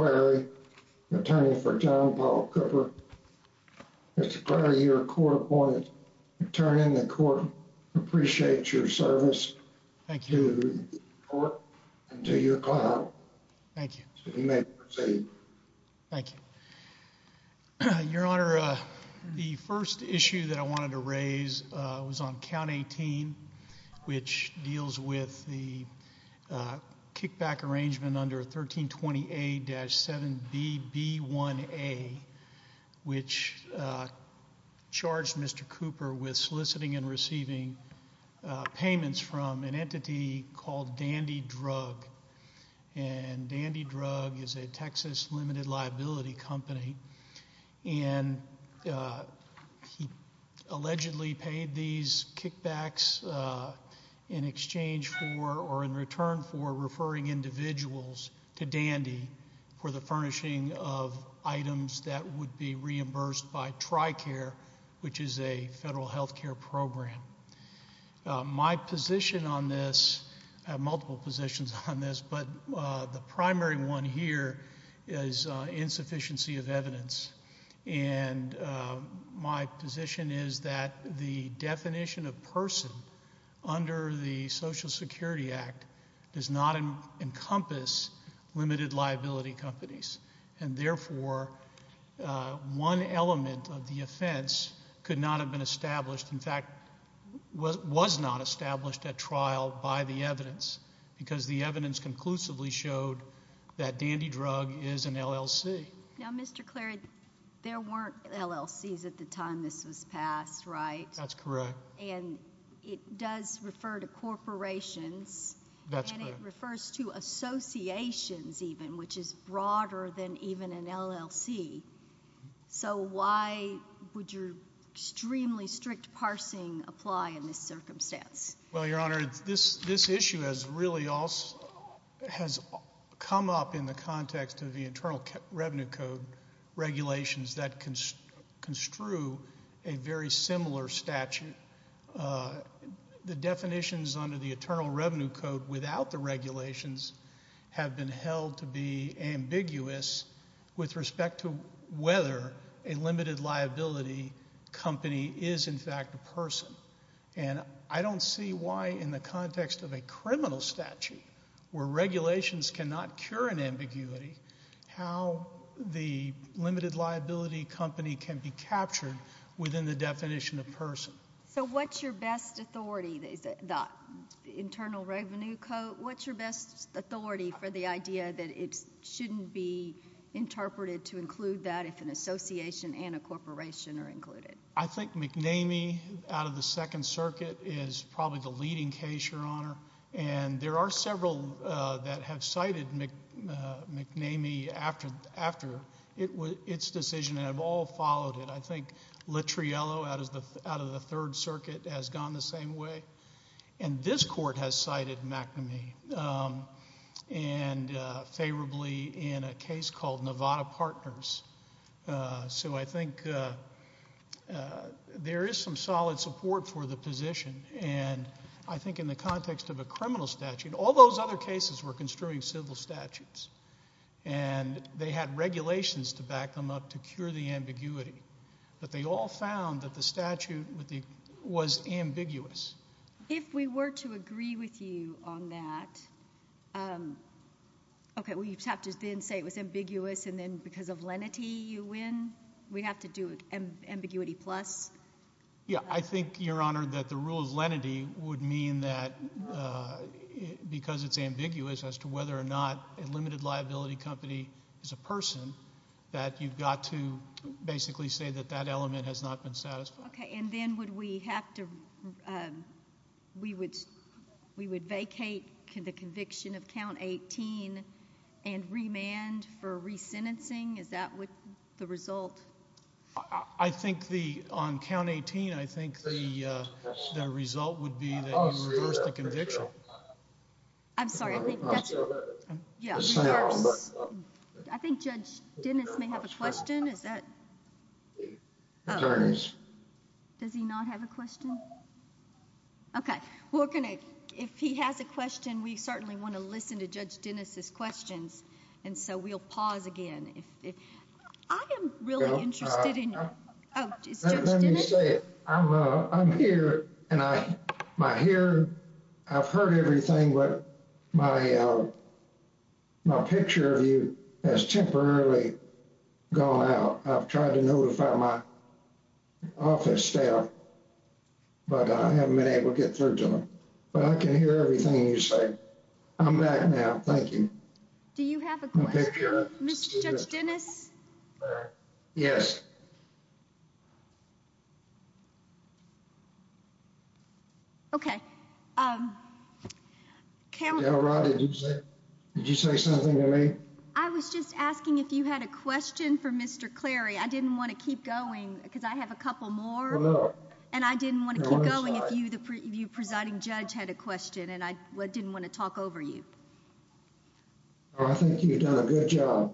where you're going to turn in the court. Appreciate your service. Thank you. Thank you. Thank you. Your Honor, the first issue that I wanted to raise was on count 18, which deals with the kickback arrangement under 1320A-7BB1A, which charged Mr. Cooper with soliciting and receiving payments from an entity called Dandy Drug. And Dandy Drug is a Texas limited liability company. And he allegedly paid these kickbacks in exchange for or in return for referring individuals to Dandy for the furnishing of items that would be reimbursed by TRICARE, which is a federal health care program. My position on this, I have multiple positions on this, but the primary one here is insufficiency of evidence. And my position is that the definition of person under the Social Security Act does not encompass limited liability companies. And therefore, one element of the offense could not have been established, in fact, was not established at trial by the evidence, because the evidence conclusively showed that Dandy Drug is an LLC. Now, Mr. Clary, there weren't LLCs at the time this was passed, right? That's correct. And it does refer to corporations. That's correct. And it refers to associations even, which is broader than even an LLC. So why would your extremely strict parsing apply in this circumstance? Well, Your Honor, this issue has really come up in the context of the Internal Revenue Code regulations that construe a very similar statute. The definitions under the Internal Revenue Code without the regulations have been held to be ambiguous with respect to whether a limited liability company is, in fact, a person. And I don't see why in the context of a criminal statute where regulations cannot cure an ambiguity how the limited liability company can be captured within the definition of person. So what's your best authority, the Internal Revenue Code, what's your best authority that it shouldn't be interpreted to include that if an association and a corporation are included? I think McNamee out of the Second Circuit is probably the leading case, Your Honor. And there are several that have cited McNamee after its decision and have all followed it. I think Littriello out of the Third Circuit has gone the same way. And this court has case called Nevada Partners. So I think there is some solid support for the position. And I think in the context of a criminal statute, all those other cases were construing civil statutes. And they had regulations to back them up to cure the ambiguity. But they all found that the statute was ambiguous. If we were to agree with you on that, okay, we have to then say it was ambiguous, and then because of lenity you win? We have to do ambiguity plus? Yeah, I think, Your Honor, that the rule of lenity would mean that because it's ambiguous as to whether or not a limited liability company is a person, that you've got to basically say that that element has not been satisfied. Okay, and then would we have to, we would vacate the conviction of Count 18 and remand for resentencing? Is that the result? I think on Count 18, I think the result would be that you reverse the conviction. I'm sorry, I think I think Judge Dennis may have a question. Is that? Does he not have a question? Okay, we're going to, if he has a question, we certainly want to listen to Judge Dennis's questions. And so we'll pause again. I am really interested in, is Judge Dennis? Let me say it. I'm here, and I hear, I've heard everything, but my picture of you has temporarily gone out. I've tried to notify my office staff, but I haven't been able to get through to them. But I can hear everything you say. I'm back now, thank you. Do you have a question? Mr. Judge Dennis? Yes. Okay, did you say something to me? I was just asking if you had a question for Mr. Clary. I didn't want to keep going because I have a couple more, and I didn't want to keep going if you, Presiding Judge, had a question, and I didn't want to talk over you. I think you've done a good job.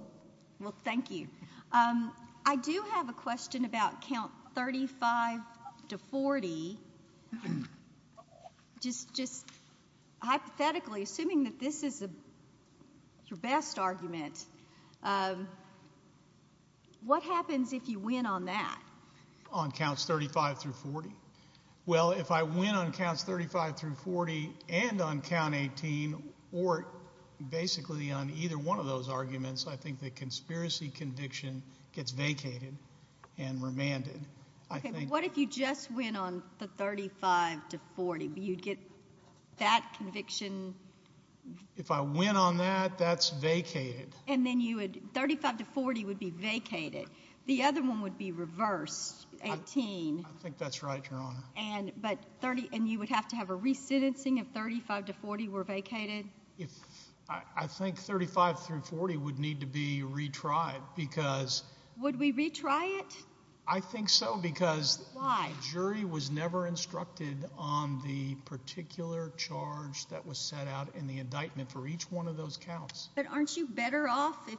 Well, thank you. I do have a question about count 35 to 40. Just hypothetically, assuming that this is your best argument, what happens if you win on that? On counts 35 through 40? Well, if I win on counts 35 through 40 and on count 18, or basically on either one of those arguments, I think the conspiracy conviction gets vacated and remanded. Okay, but what if you just win on the 35 to 40? You'd get that conviction? If I win on that, that's vacated. And then you would, 35 to 40 would be vacated. The other one would be reversed, 18. I think that's right, Your Honor. And you would have to have a re-sentencing if 35 to 40 were vacated? I think 35 through 40 would need to be retried. Would we retry it? I think so, because the jury was never instructed on the particular charge that was set out in the indictment for each one of those counts. But aren't you better off if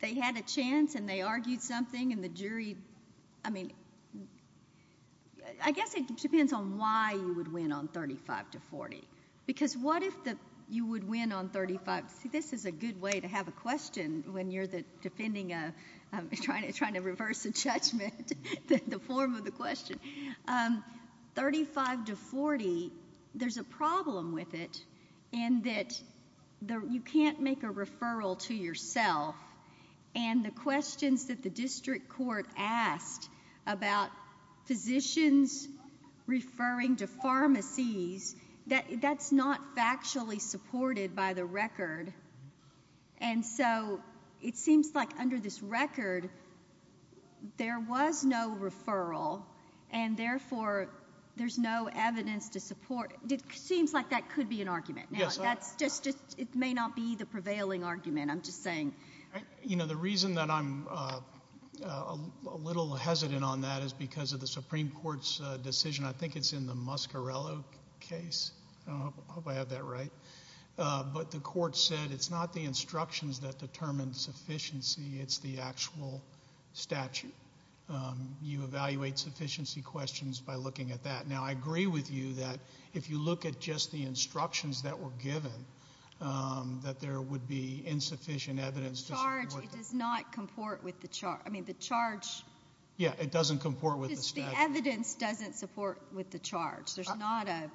they had a chance and they argued something and the jury, I mean, I guess it depends on why you would win on 35 to 40. Because what if you would win on 35? See, this is a good way to have a question when you're defending, trying to reverse a can't make a referral to yourself and the questions that the district court asked about physicians referring to pharmacies, that's not factually supported by the record. And so it seems like under this record, there was no referral and therefore there's no evidence to support, it seems like that could be an argument. Now, that's just, it may not be the prevailing argument, I'm just saying. You know, the reason that I'm a little hesitant on that is because of the Supreme Court's decision, I think it's in the Muscarello case, I hope I have that right, but the court said it's not the instructions that determine sufficiency, it's the actual that if you look at just the instructions that were given, that there would be insufficient evidence. The charge, it does not comport with the charge. I mean, the charge. Yeah, it doesn't comport with the statute. The evidence doesn't support with the charge. There's not a,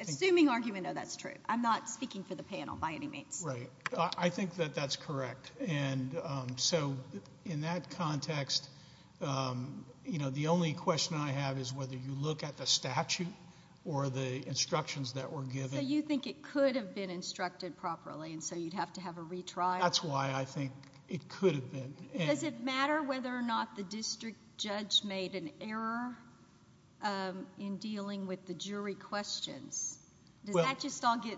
assuming argument, no, that's true. I'm not speaking for the panel by any means. Right. I think that that's correct. And so in that context, you know, the only question I have is whether you look at the statute or the instructions that were given. So you think it could have been instructed properly and so you'd have to have a retrial? That's why I think it could have been. Does it matter whether or not the district judge made an error in dealing with the jury questions? Does that just all get,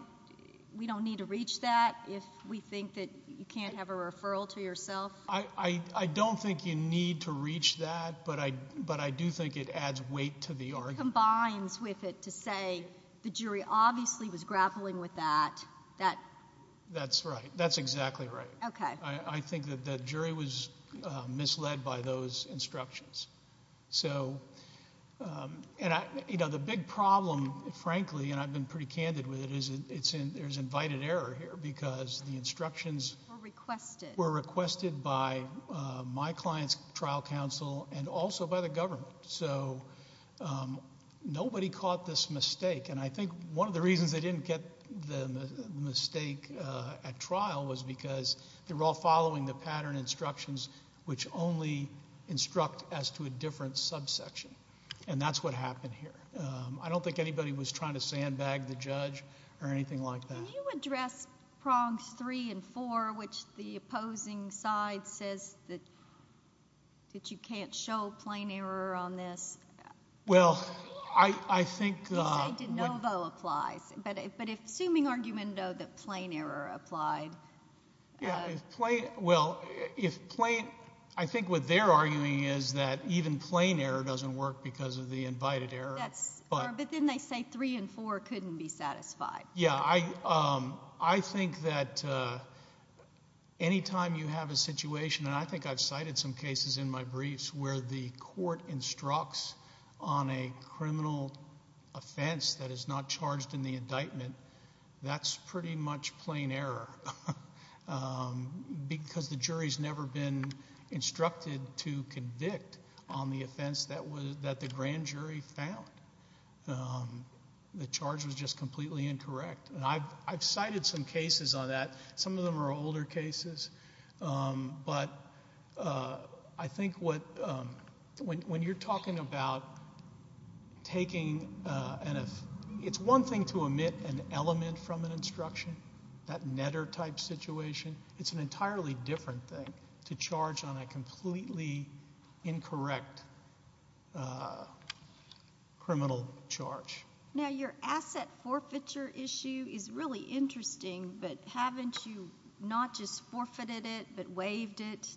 we don't need to reach that if we think that you can't have a referral to yourself? I don't think you need to reach that, but I do think it adds weight to the argument. It combines with it to say the jury obviously was grappling with that. That's right. That's exactly right. Okay. I think that the jury was misled by those instructions. So, you know, the big problem, frankly, and I've been pretty candid with it, is there's invited error here because the instructions were requested by my client's trial counsel and also by the government. So nobody caught this mistake and I think one of the reasons they didn't get the mistake at trial was because they were all following the pattern instructions which only instruct as to a different subsection. And that's what happened here. I don't think anybody was trying to sandbag the judge or anything like that. Can you address prongs three and four which the opposing side says that you can't show plain error on this? Well, I think... You say de novo applies, but if assuming argument though that plain error applied... Yeah, if plain, well, if plain, I think what they're arguing is that even plain error doesn't work because of the invited error. But then they say three and four couldn't be satisfied. Yeah, I think that anytime you have a situation, and I think I've cited some cases in my briefs where the court instructs on a criminal offense that is not charged in the indictment, that's pretty much plain error because the jury's never been instructed to convict on the offense that the grand jury found. The charge was just completely incorrect, and I've cited some cases on that. Some of them are older cases, but I think when you're talking about taking... It's one thing to omit an element from an instruction, that netter type situation. It's an entirely different thing to charge on a completely incorrect criminal charge. Now, your asset forfeiture issue is really interesting, but haven't you not just forfeited it, but waived it?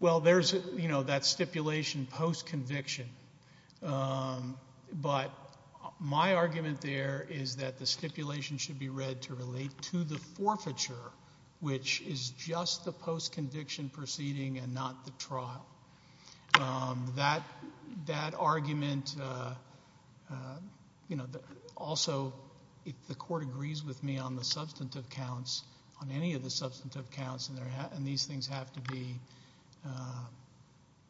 Well, there's that stipulation post-conviction, but my argument there is that the stipulation should be read to relate to the forfeiture, which is just the post-conviction proceeding and not the trial. That argument... Also, if the court agrees with me on the substantive counts, on any of the substantive counts, and these things have to be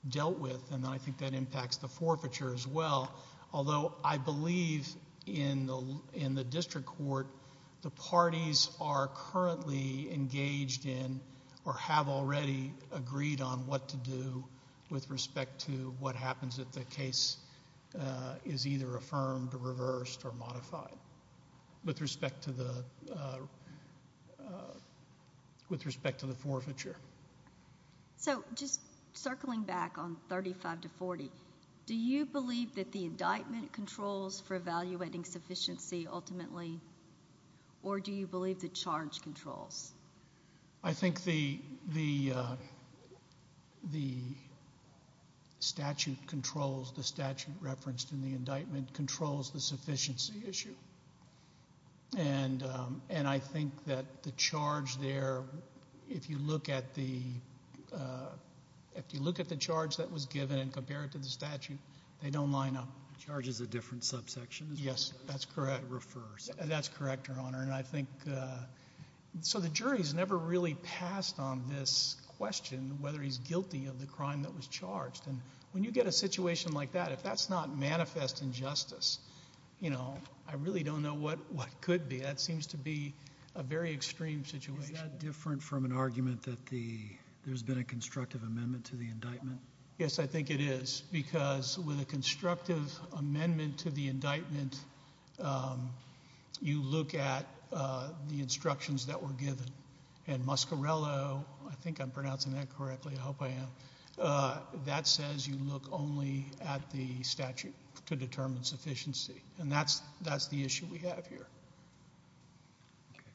dealt with, and I think that impacts the forfeiture as well, although I believe in the district court, the parties are currently engaged in or have already agreed on what to do with respect to what happens if the case is either affirmed, reversed, or modified with respect to the forfeiture. So, just circling back on 35 to 40, do you believe that the indictment controls for evaluating sufficiency ultimately, or do you believe the charge controls? I think the statute controls, the statute referenced in the indictment controls the subsection. If you look at the charge that was given and compare it to the statute, they don't line up. Charge is a different subsection? Yes, that's correct. That's correct, Your Honor, and I think... So, the jury's never really passed on this question, whether he's guilty of the crime that was charged, and when you get a situation like that, if that's not manifest injustice, I really don't know what could be. That seems to be a very extreme situation. Is that different from an argument that there's been a constructive amendment to the indictment? Yes, I think it is, because with a constructive amendment to the indictment, you look at the instructions that were given, and Muscarello, I think I'm pronouncing that correctly, I hope I am, that says you look only at the statute to determine sufficiency, and that's the issue we have here. Okay.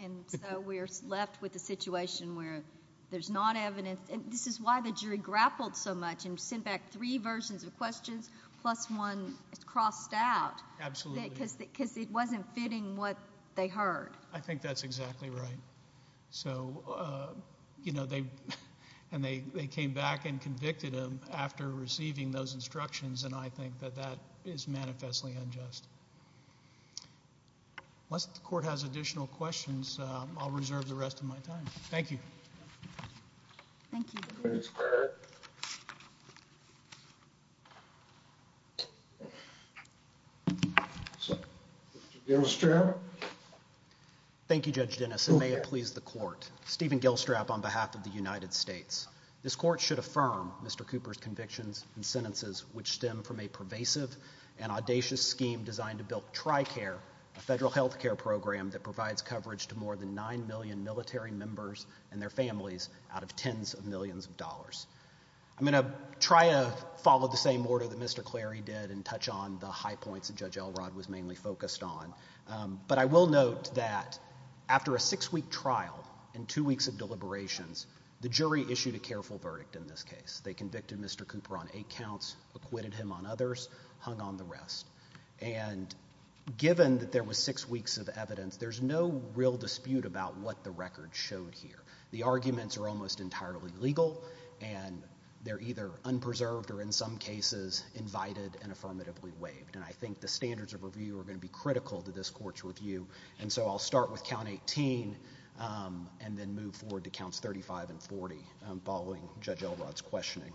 Okay. And so, we're left with a situation where there's not evidence, and this is why the jury grappled so much and sent back three versions of questions, plus one crossed out. Absolutely. Because it wasn't fitting what they heard. I think that's exactly right. So, you know, they came back and convicted him after receiving those instructions, and I think that that is manifestly unjust. Unless the Court has additional questions, I'll reserve the rest of my time. Thank you. Thank you. Thank you, Mr. Gailstrap. Thank you, Judge Dennis. It may have pleased the Court. Stephen Gailstrap on behalf of the Judiciary, I'd like to thank you for your time today, and I'd like to thank all of you for being here today. I'm going to try to follow the same order that Mr. Clary did and touch on the high points that Judge Elrod was mainly focused on, but I will note that after a six-week trial and two weeks of deliberations, the jury issued a careful verdict in this case. They convicted Mr. Cooper on eight counts, acquitted him on others, hung on the rest. And given that there was six weeks of evidence, there's no real dispute about what the record showed here. The arguments are almost entirely legal, and they're either unpreserved or in some cases invited and affirmatively waived. And I think the standards of review are going to be critical to this Court's review, and so I'll start with count 18 and then move forward to counts 35 and 40 following Judge Elrod's questioning.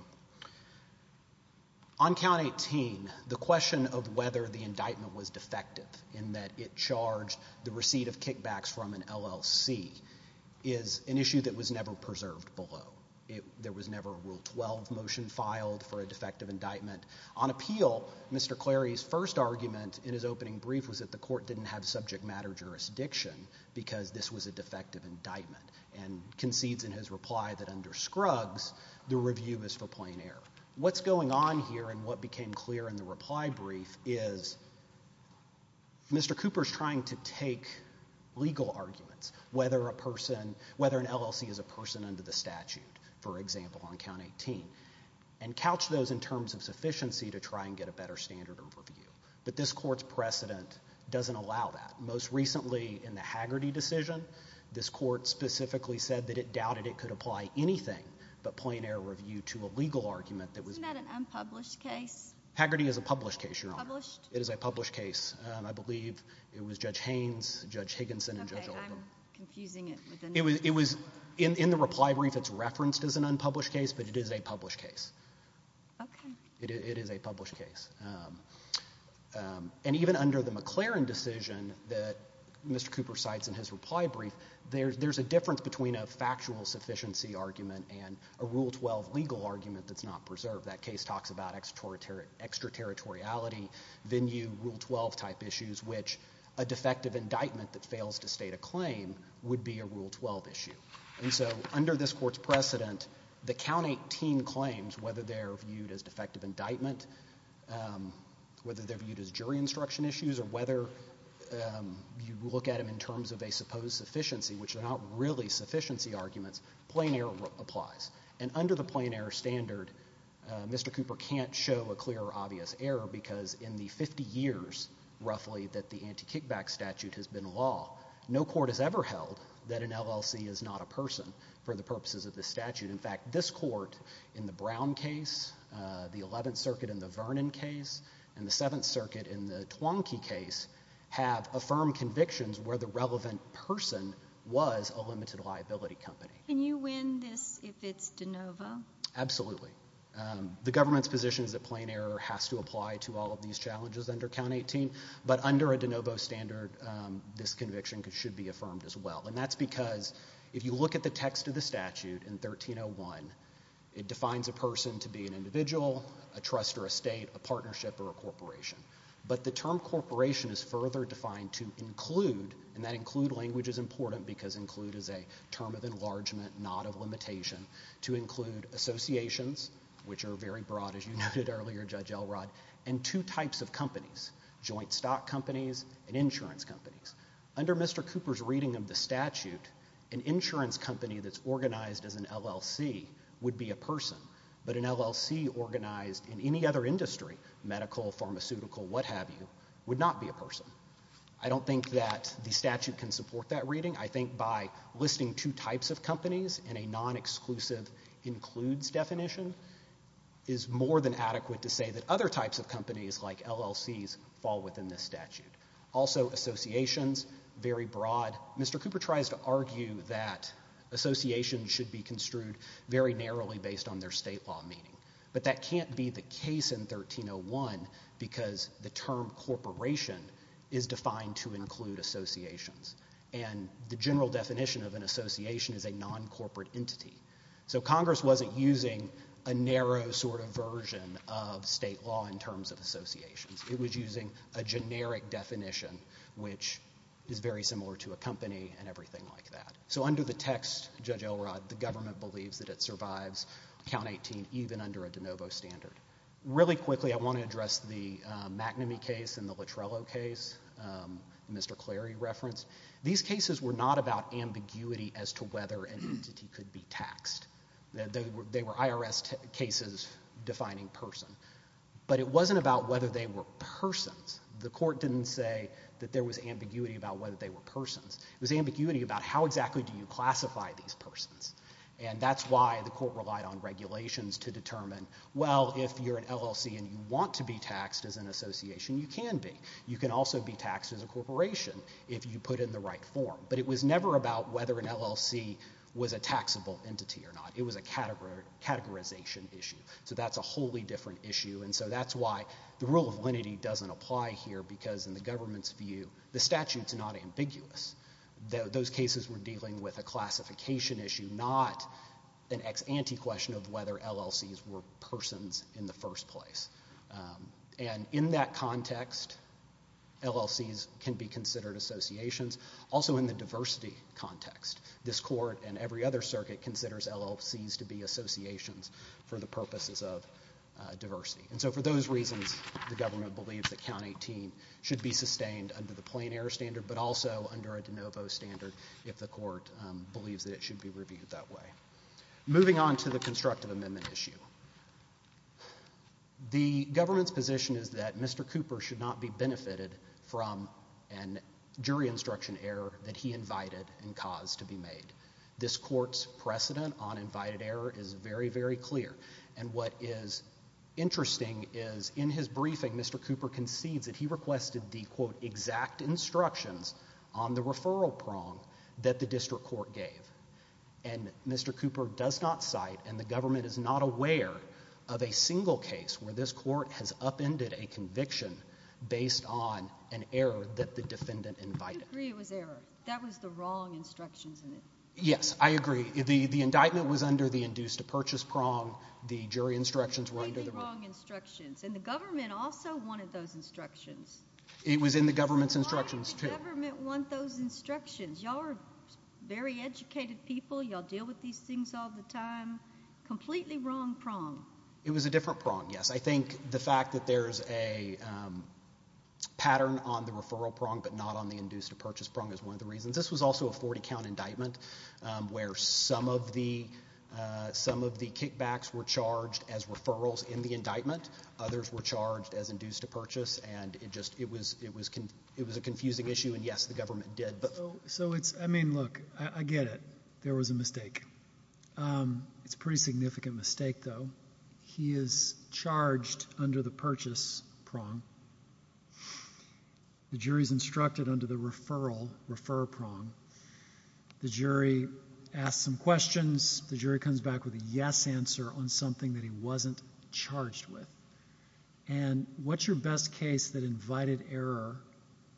On count 18, the question of whether the indictment was defective in that it charged the receipt of kickbacks from an LLC is an issue that was never preserved below. There was never a Rule 12 motion filed for a defective indictment. On appeal, Mr. Clary's first argument in his opening brief was that the Court didn't have subject matter jurisdiction because this was a defective indictment and concedes in his reply that under Scruggs, the review is for plain error. What's going on here and what became clear in the reply brief is Mr. Cooper's trying to take legal arguments, whether a person, whether an LLC is a person under the statute, for example, on count 18, and couch those in terms of sufficiency to try and get a better standard of review. But this Court's precedent doesn't allow that. Most recently in the Haggerty decision, this Court specifically said that it doubted it could apply anything but plain error review to a legal argument that was... Isn't that an unpublished case? Haggerty is a published case, Your Honor. Published? It is a published case. I believe it was Judge Haynes, Judge Higginson, and Judge Elrod. Okay, I'm confusing it with another... It was in the reply brief, it's referenced as an unpublished case, but it is a published case. Okay. It is a published case. And even under the McLaren decision that Mr. Cooper cites in his reply brief, there's a difference between a factual sufficiency argument and a Rule 12 legal argument that's not preserved. That case talks about extraterritoriality, venue, Rule 12-type issues, which a defective indictment that fails to state a claim would be a Rule 12 issue. And so under this Court's precedent, the Count 18 claims, whether they're viewed as defective indictment, whether they're viewed as jury instruction issues, or whether you look at them in terms of a supposed sufficiency, which are not really sufficiency arguments, plain error applies. And under the plain error standard, Mr. Cooper can't show a clear or obvious error because in the 50 years, roughly, that the anti-kickback statute has been law, no court has ever held that an LLC is not a person for the purposes of this statute. In fact, this Court in the Brown case, the 11th Circuit in the Vernon case, and the 7th Circuit in the Twonky case have affirmed convictions where the relevant person was a limited liability company. Can you win this if it's de novo? Absolutely. The government's position is that plain error has to apply to all of these challenges under Count 18. But under a de novo standard, this conviction should be affirmed as well. And that's because if you look at the text of the statute in 1301, it defines a person to be an individual, a trust or a state, a partnership or a corporation. But the term corporation is further defined to include, and that include language is important because include is a term of enlargement, not of limitation, to include associations, which are very broad, as you noted earlier, Judge Elrod, and two types of companies, joint stock companies and insurance companies. Under Mr. Cooper's reading of the statute, an insurance company that's organized as an LLC would be a person, but an LLC organized in any other industry, medical, pharmaceutical, what have you, would not be a person. I don't think that the statute can support that reading. I think by listing two types of companies in a non-exclusive includes definition is more than adequate to say that other types of companies like LLCs fall within this statute. Also associations, very broad. Mr. Cooper tries to argue that associations should be construed very narrowly based on their state law meaning. But that can't be the case in 1301 because the term corporation is defined to include associations. And the general definition of an association is a non-corporate entity. So Congress wasn't using a narrow sort of version of state law in terms of associations. It was using a generic definition, which is very similar to a company and everything like that. So under the text, Judge Elrod, the government believes that it survives count 18 even under a de novo standard. Really quickly, I want to address the McNamee case and the Latrello case, Mr. Clary referenced. These cases were not about ambiguity as to whether an entity could be taxed. They were IRS cases defining person. But it wasn't about whether they were persons. The court didn't say that there was ambiguity about whether they were persons. It was ambiguity about how exactly do you classify these persons. And that's why the court said if you want to be taxed as an association, you can be. You can also be taxed as a corporation if you put in the right form. But it was never about whether an LLC was a taxable entity or not. It was a categorization issue. So that's a wholly different issue. And so that's why the rule of lenity doesn't apply here because in the government's view, the statute's not ambiguous. Those cases were dealing with a classification issue, not an anti-question of whether LLCs were persons in the first place. And in that context, LLCs can be considered associations. Also in the diversity context, this court and every other circuit considers LLCs to be associations for the purposes of diversity. And so for those reasons, the government believes that Count 18 should be sustained under the plein air standard, but also under a de novo standard if the court believes that it should be reviewed that way. Moving on to the constructive amendment issue. The government's position is that Mr. Cooper should not be benefited from a jury instruction error that he invited and caused to be made. This court's precedent on invited error is very, very clear. And what is interesting is in his briefing, Mr. Cooper concedes that he requested the, quote, exact instructions on the referral prong that the district court gave. And Mr. Cooper does not cite and the government is not aware of a single case where this court has upended a conviction based on an error that the defendant invited. I agree it was error. That was the wrong instructions in it. Yes, I agree. The indictment was under the induced-to-purchase prong. The jury instructions were under the wrong instructions. And the government also wanted those instructions. It was in the government's instructions, too. Why did the government want those instructions? Y'all are very educated people. Y'all deal with these things all the time. Completely wrong prong. It was a different prong, yes. I think the fact that there's a pattern on the referral prong but not on the induced-to-purchase prong is one of the reasons. This was also a 40-count indictment where some of the kickbacks were charged as referrals in the indictment. Others were charged as induced-to-purchase and it was a confusing issue and yes, the government did. I mean, look, I get it. There was a mistake. It's a pretty significant mistake, though. He is charged under the purchase prong. The jury's instructed under the referral refer prong. The jury asks some questions. The jury comes back with a yes answer on something that he wasn't charged with. And what's your best case that invited error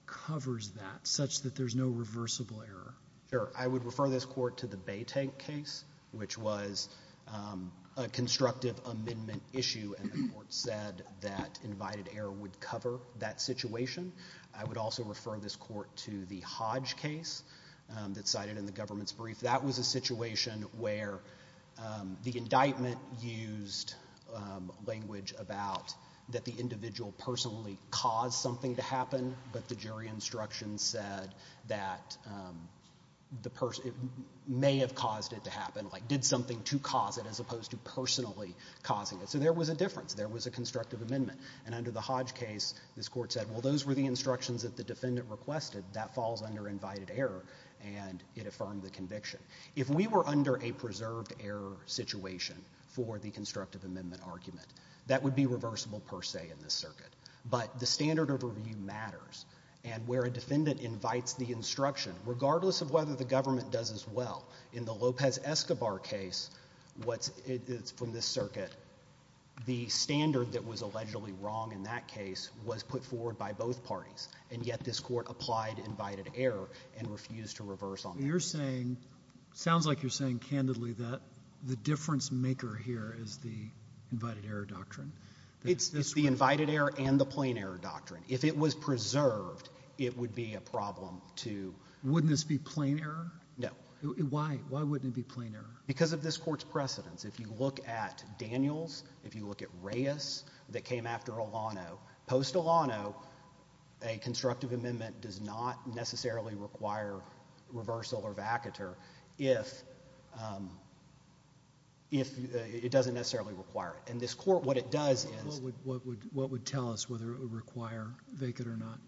covers that such that there's no reversible error? Sure. I would refer this court to the Baytank case, which was a constructive amendment issue and the court said that invited error would cover that situation. I would also refer this court to the Hodge case that's cited in the government's brief. That was a situation where the indictment used language about that the individual personally caused something to happen, but the jury instruction said that the person may have caused it to happen, like did something to cause it as opposed to personally causing it. So there was a difference. There was a constructive amendment. And under the Hodge case, this court said, well, those were the instructions that the defendant requested. That falls under invited error, and it affirmed the conviction. If we were under a preserved error situation for the constructive amendment argument, that would be reversible per se in this circuit. But the standard of review matters. And where a defendant invites the instruction, regardless of whether the government does as well, in the Lopez-Escobar case, from this circuit, the standard that was allegedly wrong in that case was put forward by both parties. And yet this court applied invited error and refused to reverse on that. You're saying, sounds like you're saying candidly that the difference maker here is the invited error doctrine. It's the invited error and the plain error doctrine. If it was preserved, it would be a problem to... Wouldn't this be plain error? No. Why? Why wouldn't it be plain error? Because of this court's precedents. If you look at Daniels, if you look at Reyes, that came after Alano, post-Alano, a constructive amendment does not necessarily require reversal or vacatur if it doesn't necessarily require it. And this court, what it does is... What would tell us whether it would require vacatur or not?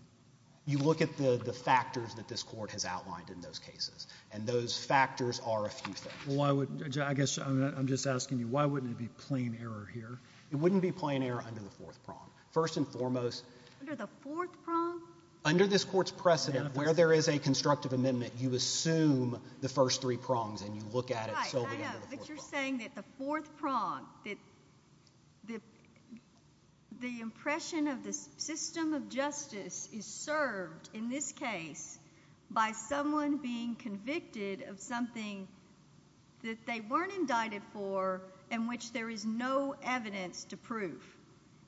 You look at the factors that this court has outlined in those cases, and those factors are a few things. Well, why would... I guess I'm just asking you, why wouldn't it be plain error here? It wouldn't be plain error under the fourth prong. First and foremost... Under the fourth prong? Under this court's precedent, where there is a constructive amendment, you assume the first three prongs and you look at it... Right, I know, but you're saying that the fourth prong, that the impression of the system of justice is served in this case by someone being convicted of something that they weren't indicted for and which there is no evidence to prove.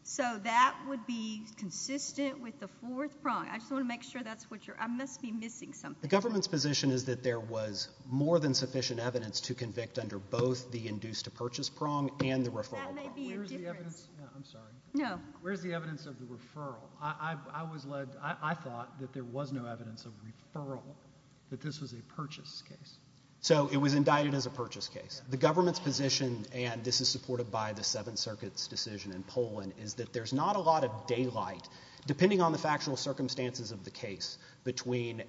So that would be consistent with the fourth prong. I just want to make sure that's what you're... I must be missing something. The government's position is that there was more than sufficient evidence to convict under both the induced-to-purchase prong and the referral prong. That may be a difference. I'm sorry. No. Where's the evidence of the referral? I thought that there was no evidence of referral, that this was a purchase case. So it was indicted as a purchase case. The government's position, and this is supported by the Seventh Circuit's decision in Poland, is that there's not a lot of daylight, depending on the factual circumstances of the case, between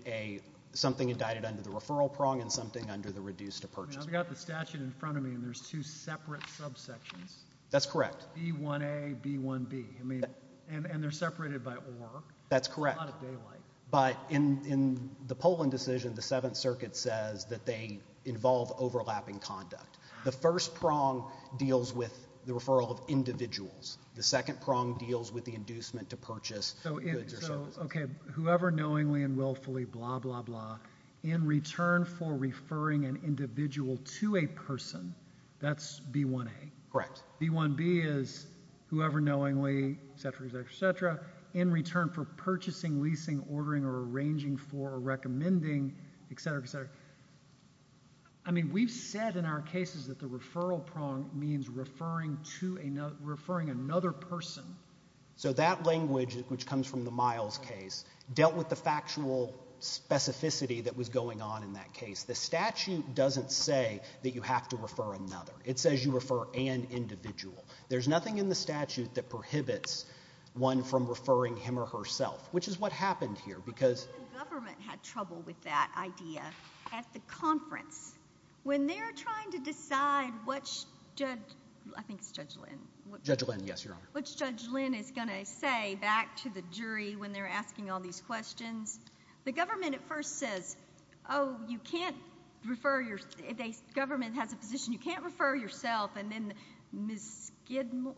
something indicted under the referral prong and something under the reduced-to-purchase prong. I've got the statute in front of me and there's two separate subsections. That's correct. B1A, B1B. And they're separated by OR. That's correct. A lot of daylight. But in the Poland decision, the Seventh Circuit says that they involve overlapping conduct. The first prong deals with the referral of individuals. The second prong deals with the inducement to purchase goods or services. Okay. Whoever knowingly and willfully blah, blah, blah, in return for referring an individual to Correct. B1B is whoever knowingly, etc., etc., etc., in return for purchasing, leasing, ordering, or arranging for, or recommending, etc., etc. I mean, we've said in our cases that the referral prong means referring another person. So that language, which comes from the Miles case, dealt with the factual specificity that was going on in that case. The statute doesn't say that you have to refer another. It says you refer an individual. There's nothing in the statute that prohibits one from referring him or herself, which is what happened here, because Even the government had trouble with that idea at the conference. When they're trying to decide what Judge, I think it's Judge Lynn. Judge Lynn, yes, Your Honor. What Judge Lynn is going to say back to the jury when they're asking all these questions, the government at first says, oh, you can't refer your, government has a position you can't refer yourself. And then Ms. Skidmore,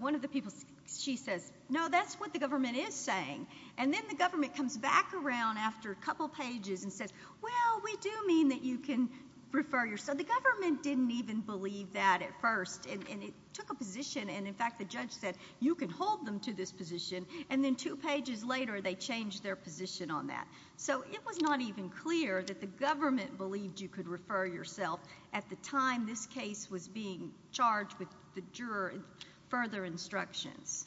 one of the people, she says, no, that's what the government is saying. And then the government comes back around after a couple pages and says, well, we do mean that you can refer yourself. The government didn't even believe that at first. And it took a position. And in fact, the judge said, you can hold them to this position. And then two pages later, they changed their position on that. So it was not even clear that the government believed you could refer yourself at the time this case was being charged with the juror further instructions.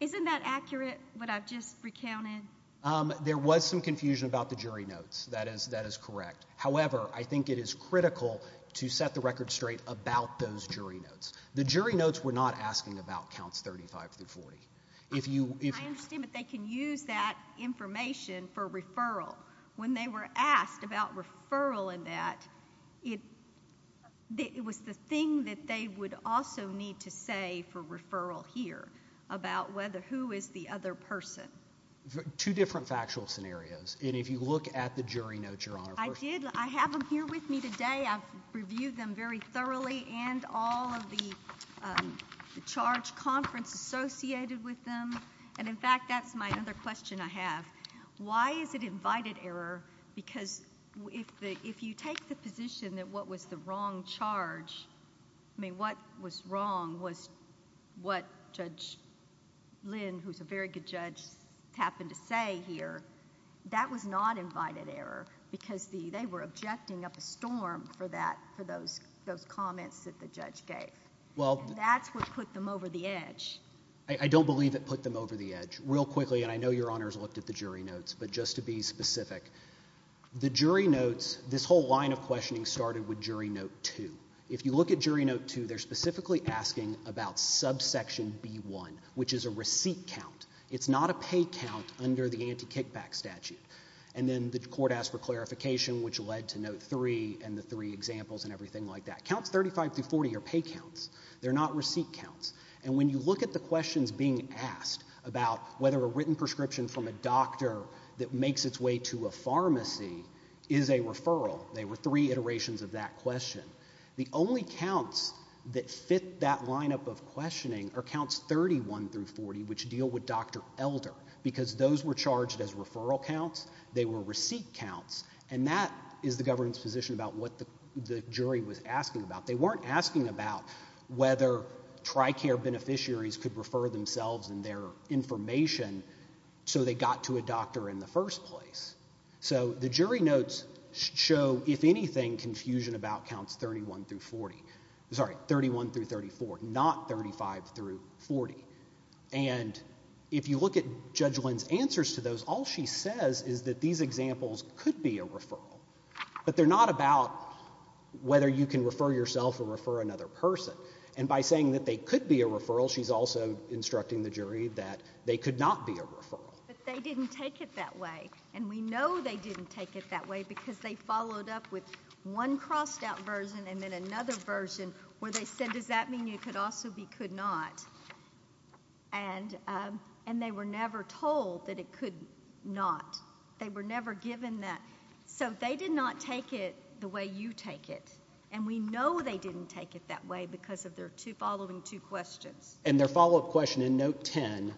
Isn't that accurate, what I've just recounted? There was some confusion about the jury notes. That is correct. However, I think it is critical to set the record straight about those jury notes. The jury notes were not asking about counts 35 through 40. I understand that they can use that information for referral. When they were asked about referral in that, it was the thing that they would also need to say for referral here about who is the other person. Two different factual scenarios. And if you look at the jury notes, Your Honor. I did. I have them here with me today. I've reviewed them very thoroughly. And all of the charge conference associated with them. And in fact, that's my other question I have. Why is it invited error? Because if you take the position that what was the wrong charge, I mean, what was wrong was what Judge Lynn, who's a very good judge, happened to say here. That was not invited error. Because they were objecting up a storm for those comments that the judge gave. That's what put them over the edge. I don't believe it put them over the edge. Real quickly, and I know Your Honor has looked at the jury notes, but just to be specific. The jury notes, this whole line of questioning started with jury note two. If you look at jury note two, they're specifically asking about subsection B1, which is a receipt count. It's not a pay count under the anti-kickback statute. And then the court asked for clarification, which led to note three and the three examples and everything like that. Counts 35 through 40 are pay counts. They're not receipt counts. And when you look at the questions being asked about whether a written prescription from a doctor that makes its way to a pharmacy is a referral, they were three iterations of that question. The only counts that fit that lineup of questioning are counts 31 through 40, which deal with Dr. Elder, because those were charged as referral counts. They were receipt counts. And that is the government's position about what the jury was asking about. They weren't asking about whether TRICARE beneficiaries could refer themselves and their information so they got to a doctor in the first place. So the jury notes show, if anything, confusion about counts 31 through 40. Sorry, 31 through 34, not 35 through 40. And if you look at Judge Lynn's answers to those, all she says is that these examples could be a referral. But they're not about whether you can refer yourself or refer another person. And by saying that they could be a referral, she's also instructing the jury that they could not be a referral. But they didn't take it that way. And we know they didn't take it that way, because they followed up with one crossed out version and then another version where they said, does that mean you could also be could not? And they were never told that it could not. They were never given that. So they did not take it the way you take it. And we know they didn't take it that way because of their following two questions. And their follow-up question in note 10,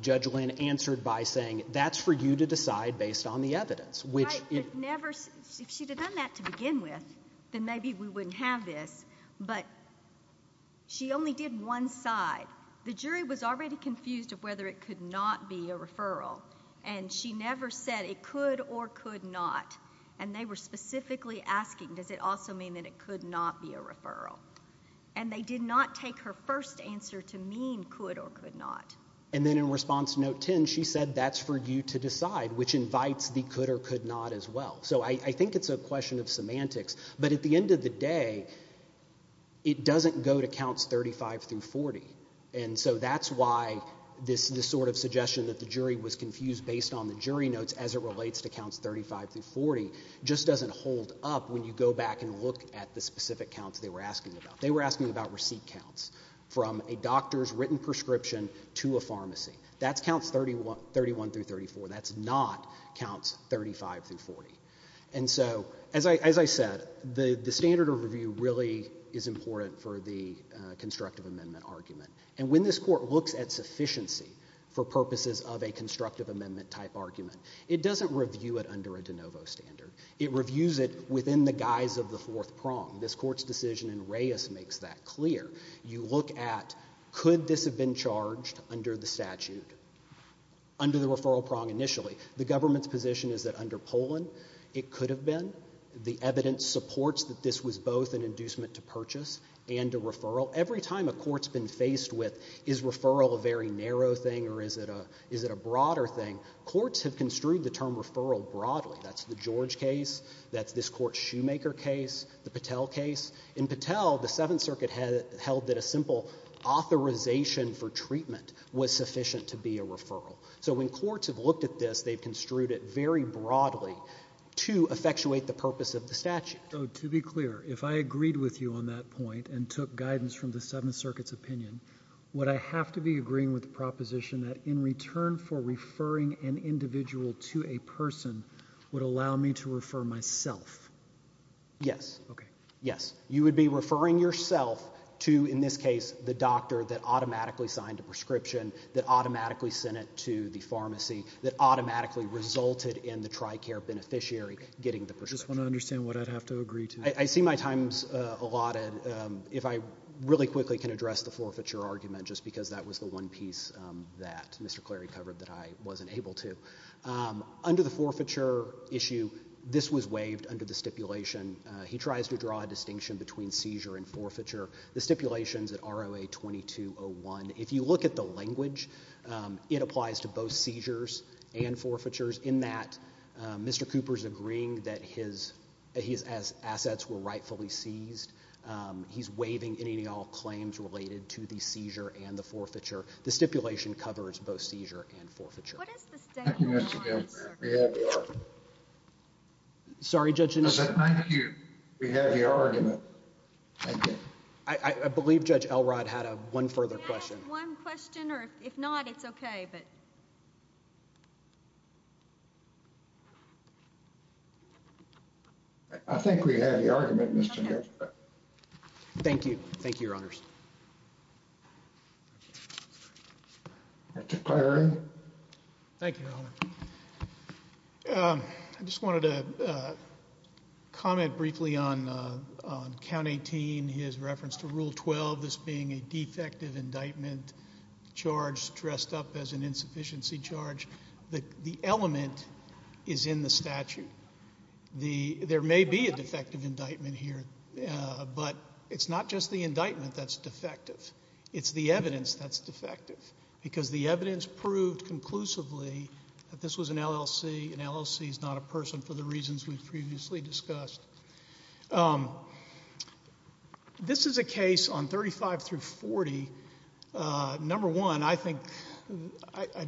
Judge Lynn answered by saying, that's for you to decide based on the evidence. Right, but if she'd have done that to begin with, then maybe we wouldn't have this. But she only did one side. The jury was already confused of whether it could not be a referral. And she never said it could or could not. And they were specifically asking, does it also mean that it could not be a referral? And they did not take her first answer to mean could or could not. And then in response to note 10, she said, that's for you to decide, which invites the could or could not as well. So I think it's a question of semantics. But at the end of the day, it doesn't go to counts 35 through 40. And so that's why this sort of suggestion that the jury was confused based on the jury notes as it relates to counts 35 through 40 just doesn't hold up when you go back and look at the specific counts they were asking about. They were asking about receipt counts from a doctor's written prescription to a pharmacy. That's counts 31 through 34. That's not counts 35 through 40. And so as I said, the standard of review really is important for the constructive amendment argument. And when this court looks at sufficiency for purposes of a constructive amendment type argument, it doesn't review it under a de novo standard. It reviews it within the guise of the fourth prong. This court's decision in Reyes makes that clear. You look at, could this have been charged under the statute, under the referral prong initially? The government's position is that under Poland, it could have been. The evidence supports that this was both an inducement to purchase and a referral. Every time a court's been faced with, is referral a very narrow thing or is it a broader thing, courts have construed the term referral broadly. That's the George case. That's this court's Shoemaker case, the Patel case. In Patel, the Seventh Circuit held that a simple authorization for treatment was sufficient to be a referral. So when courts have looked at this, they've construed it very broadly to effectuate the purpose of the statute. So to be clear, if I agreed with you on that point and took guidance from the Seventh Circuit's opinion, would I have to be agreeing with the proposition that in return for referring an individual to a person would allow me to refer myself? Yes. Yes. You would be referring yourself to, in this case, the doctor that automatically signed a prescription, that automatically sent it to the pharmacy, that automatically resulted in the TRICARE beneficiary getting the prescription. I just want to understand what I'd have to agree to. I see my time's allotted. If I really quickly can address the forfeiture argument, just because that was the one piece that Mr. Clary covered that I wasn't able to. Under the forfeiture issue, this was waived under the stipulation. He tries to draw a distinction between seizure and forfeiture. The stipulation's at ROA-2201. If you look at the language, it applies to both seizures and forfeitures. In that, Mr. Cooper's agreeing that his assets were rightfully seized. He's waiving any and all claims related to the seizure and the forfeiture. The stipulation covers both seizure and forfeiture. What is the statement you want us to refer to? Sorry, Judge Anderson. Thank you. We have your argument. Thank you. I believe Judge Elrod had one further question. We have one question, or if not, it's okay. I think we have the argument, Mr. Nix. Thank you. Thank you, Your Honors. Mr. Clary. Thank you, Your Honor. I just wanted to comment briefly on Count 18, his reference to Rule 12 as being a defective indictment charge dressed up as an insufficiency charge. The element is in the statute. There may be a defective indictment here, but it's not just the indictment that's defective. It's the evidence that's defective, because the evidence proved conclusively that this was an LLC. An LLC is not a person for the reasons we've previously discussed. This is a case on 35 through 40. Number one, I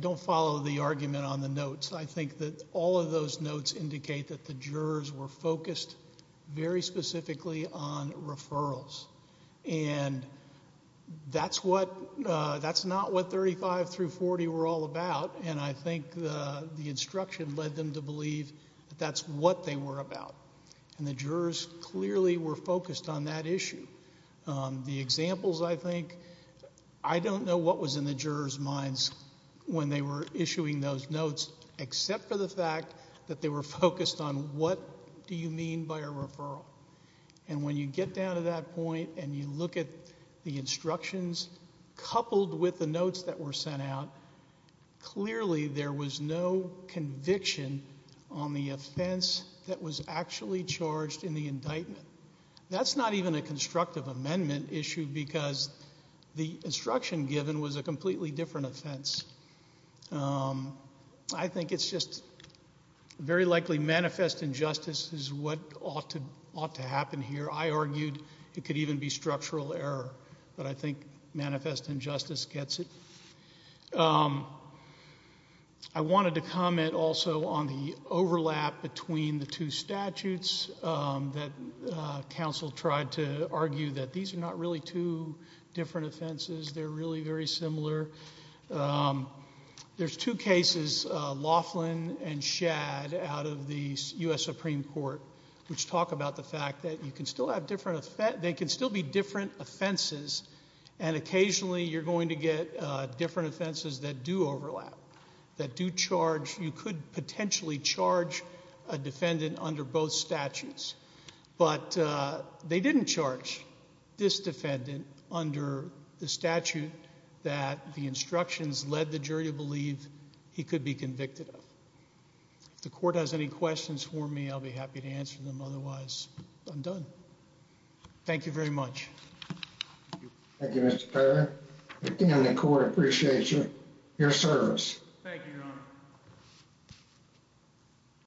don't follow the argument on the notes. I think that all of those notes indicate that the jurors were focused very specifically on referrals, and that's not what 35 through 40 were all about. I think the instruction led them to believe that that's what they were about, and the jurors clearly were focused on that issue. The examples, I think, I don't know what was in the jurors' minds when they were issuing those notes, except for the fact that they were focused on what do you mean by a referral. When you get down to that point and you look at the instructions coupled with the notes that were sent out, clearly there was no conviction on the offense that was actually charged in the indictment. That's not even a constructive amendment issue, because the instruction given was a completely different offense. I think it's just very likely manifest injustice is what ought to happen here. I argued it could even be structural error, but I think manifest injustice gets it. I wanted to comment also on the overlap between the two statutes that counsel tried to argue that these are not really two different offenses. They're really very similar. There's two cases, Laughlin and Shad, out of the U.S. Supreme Court, which talk about the fact that they can still be different offenses, and occasionally you're going to get different offenses that do overlap, that do charge. You could potentially charge a defendant under both statutes, but they didn't charge this defendant under the statute that the instructions led the jury to believe he could be convicted If the court has any questions for me, I'll be happy to answer them. Otherwise, I'm done. Thank you very much. Thank you, Mr. Perry. Again, the court appreciates your service. Thank you, Your Honor.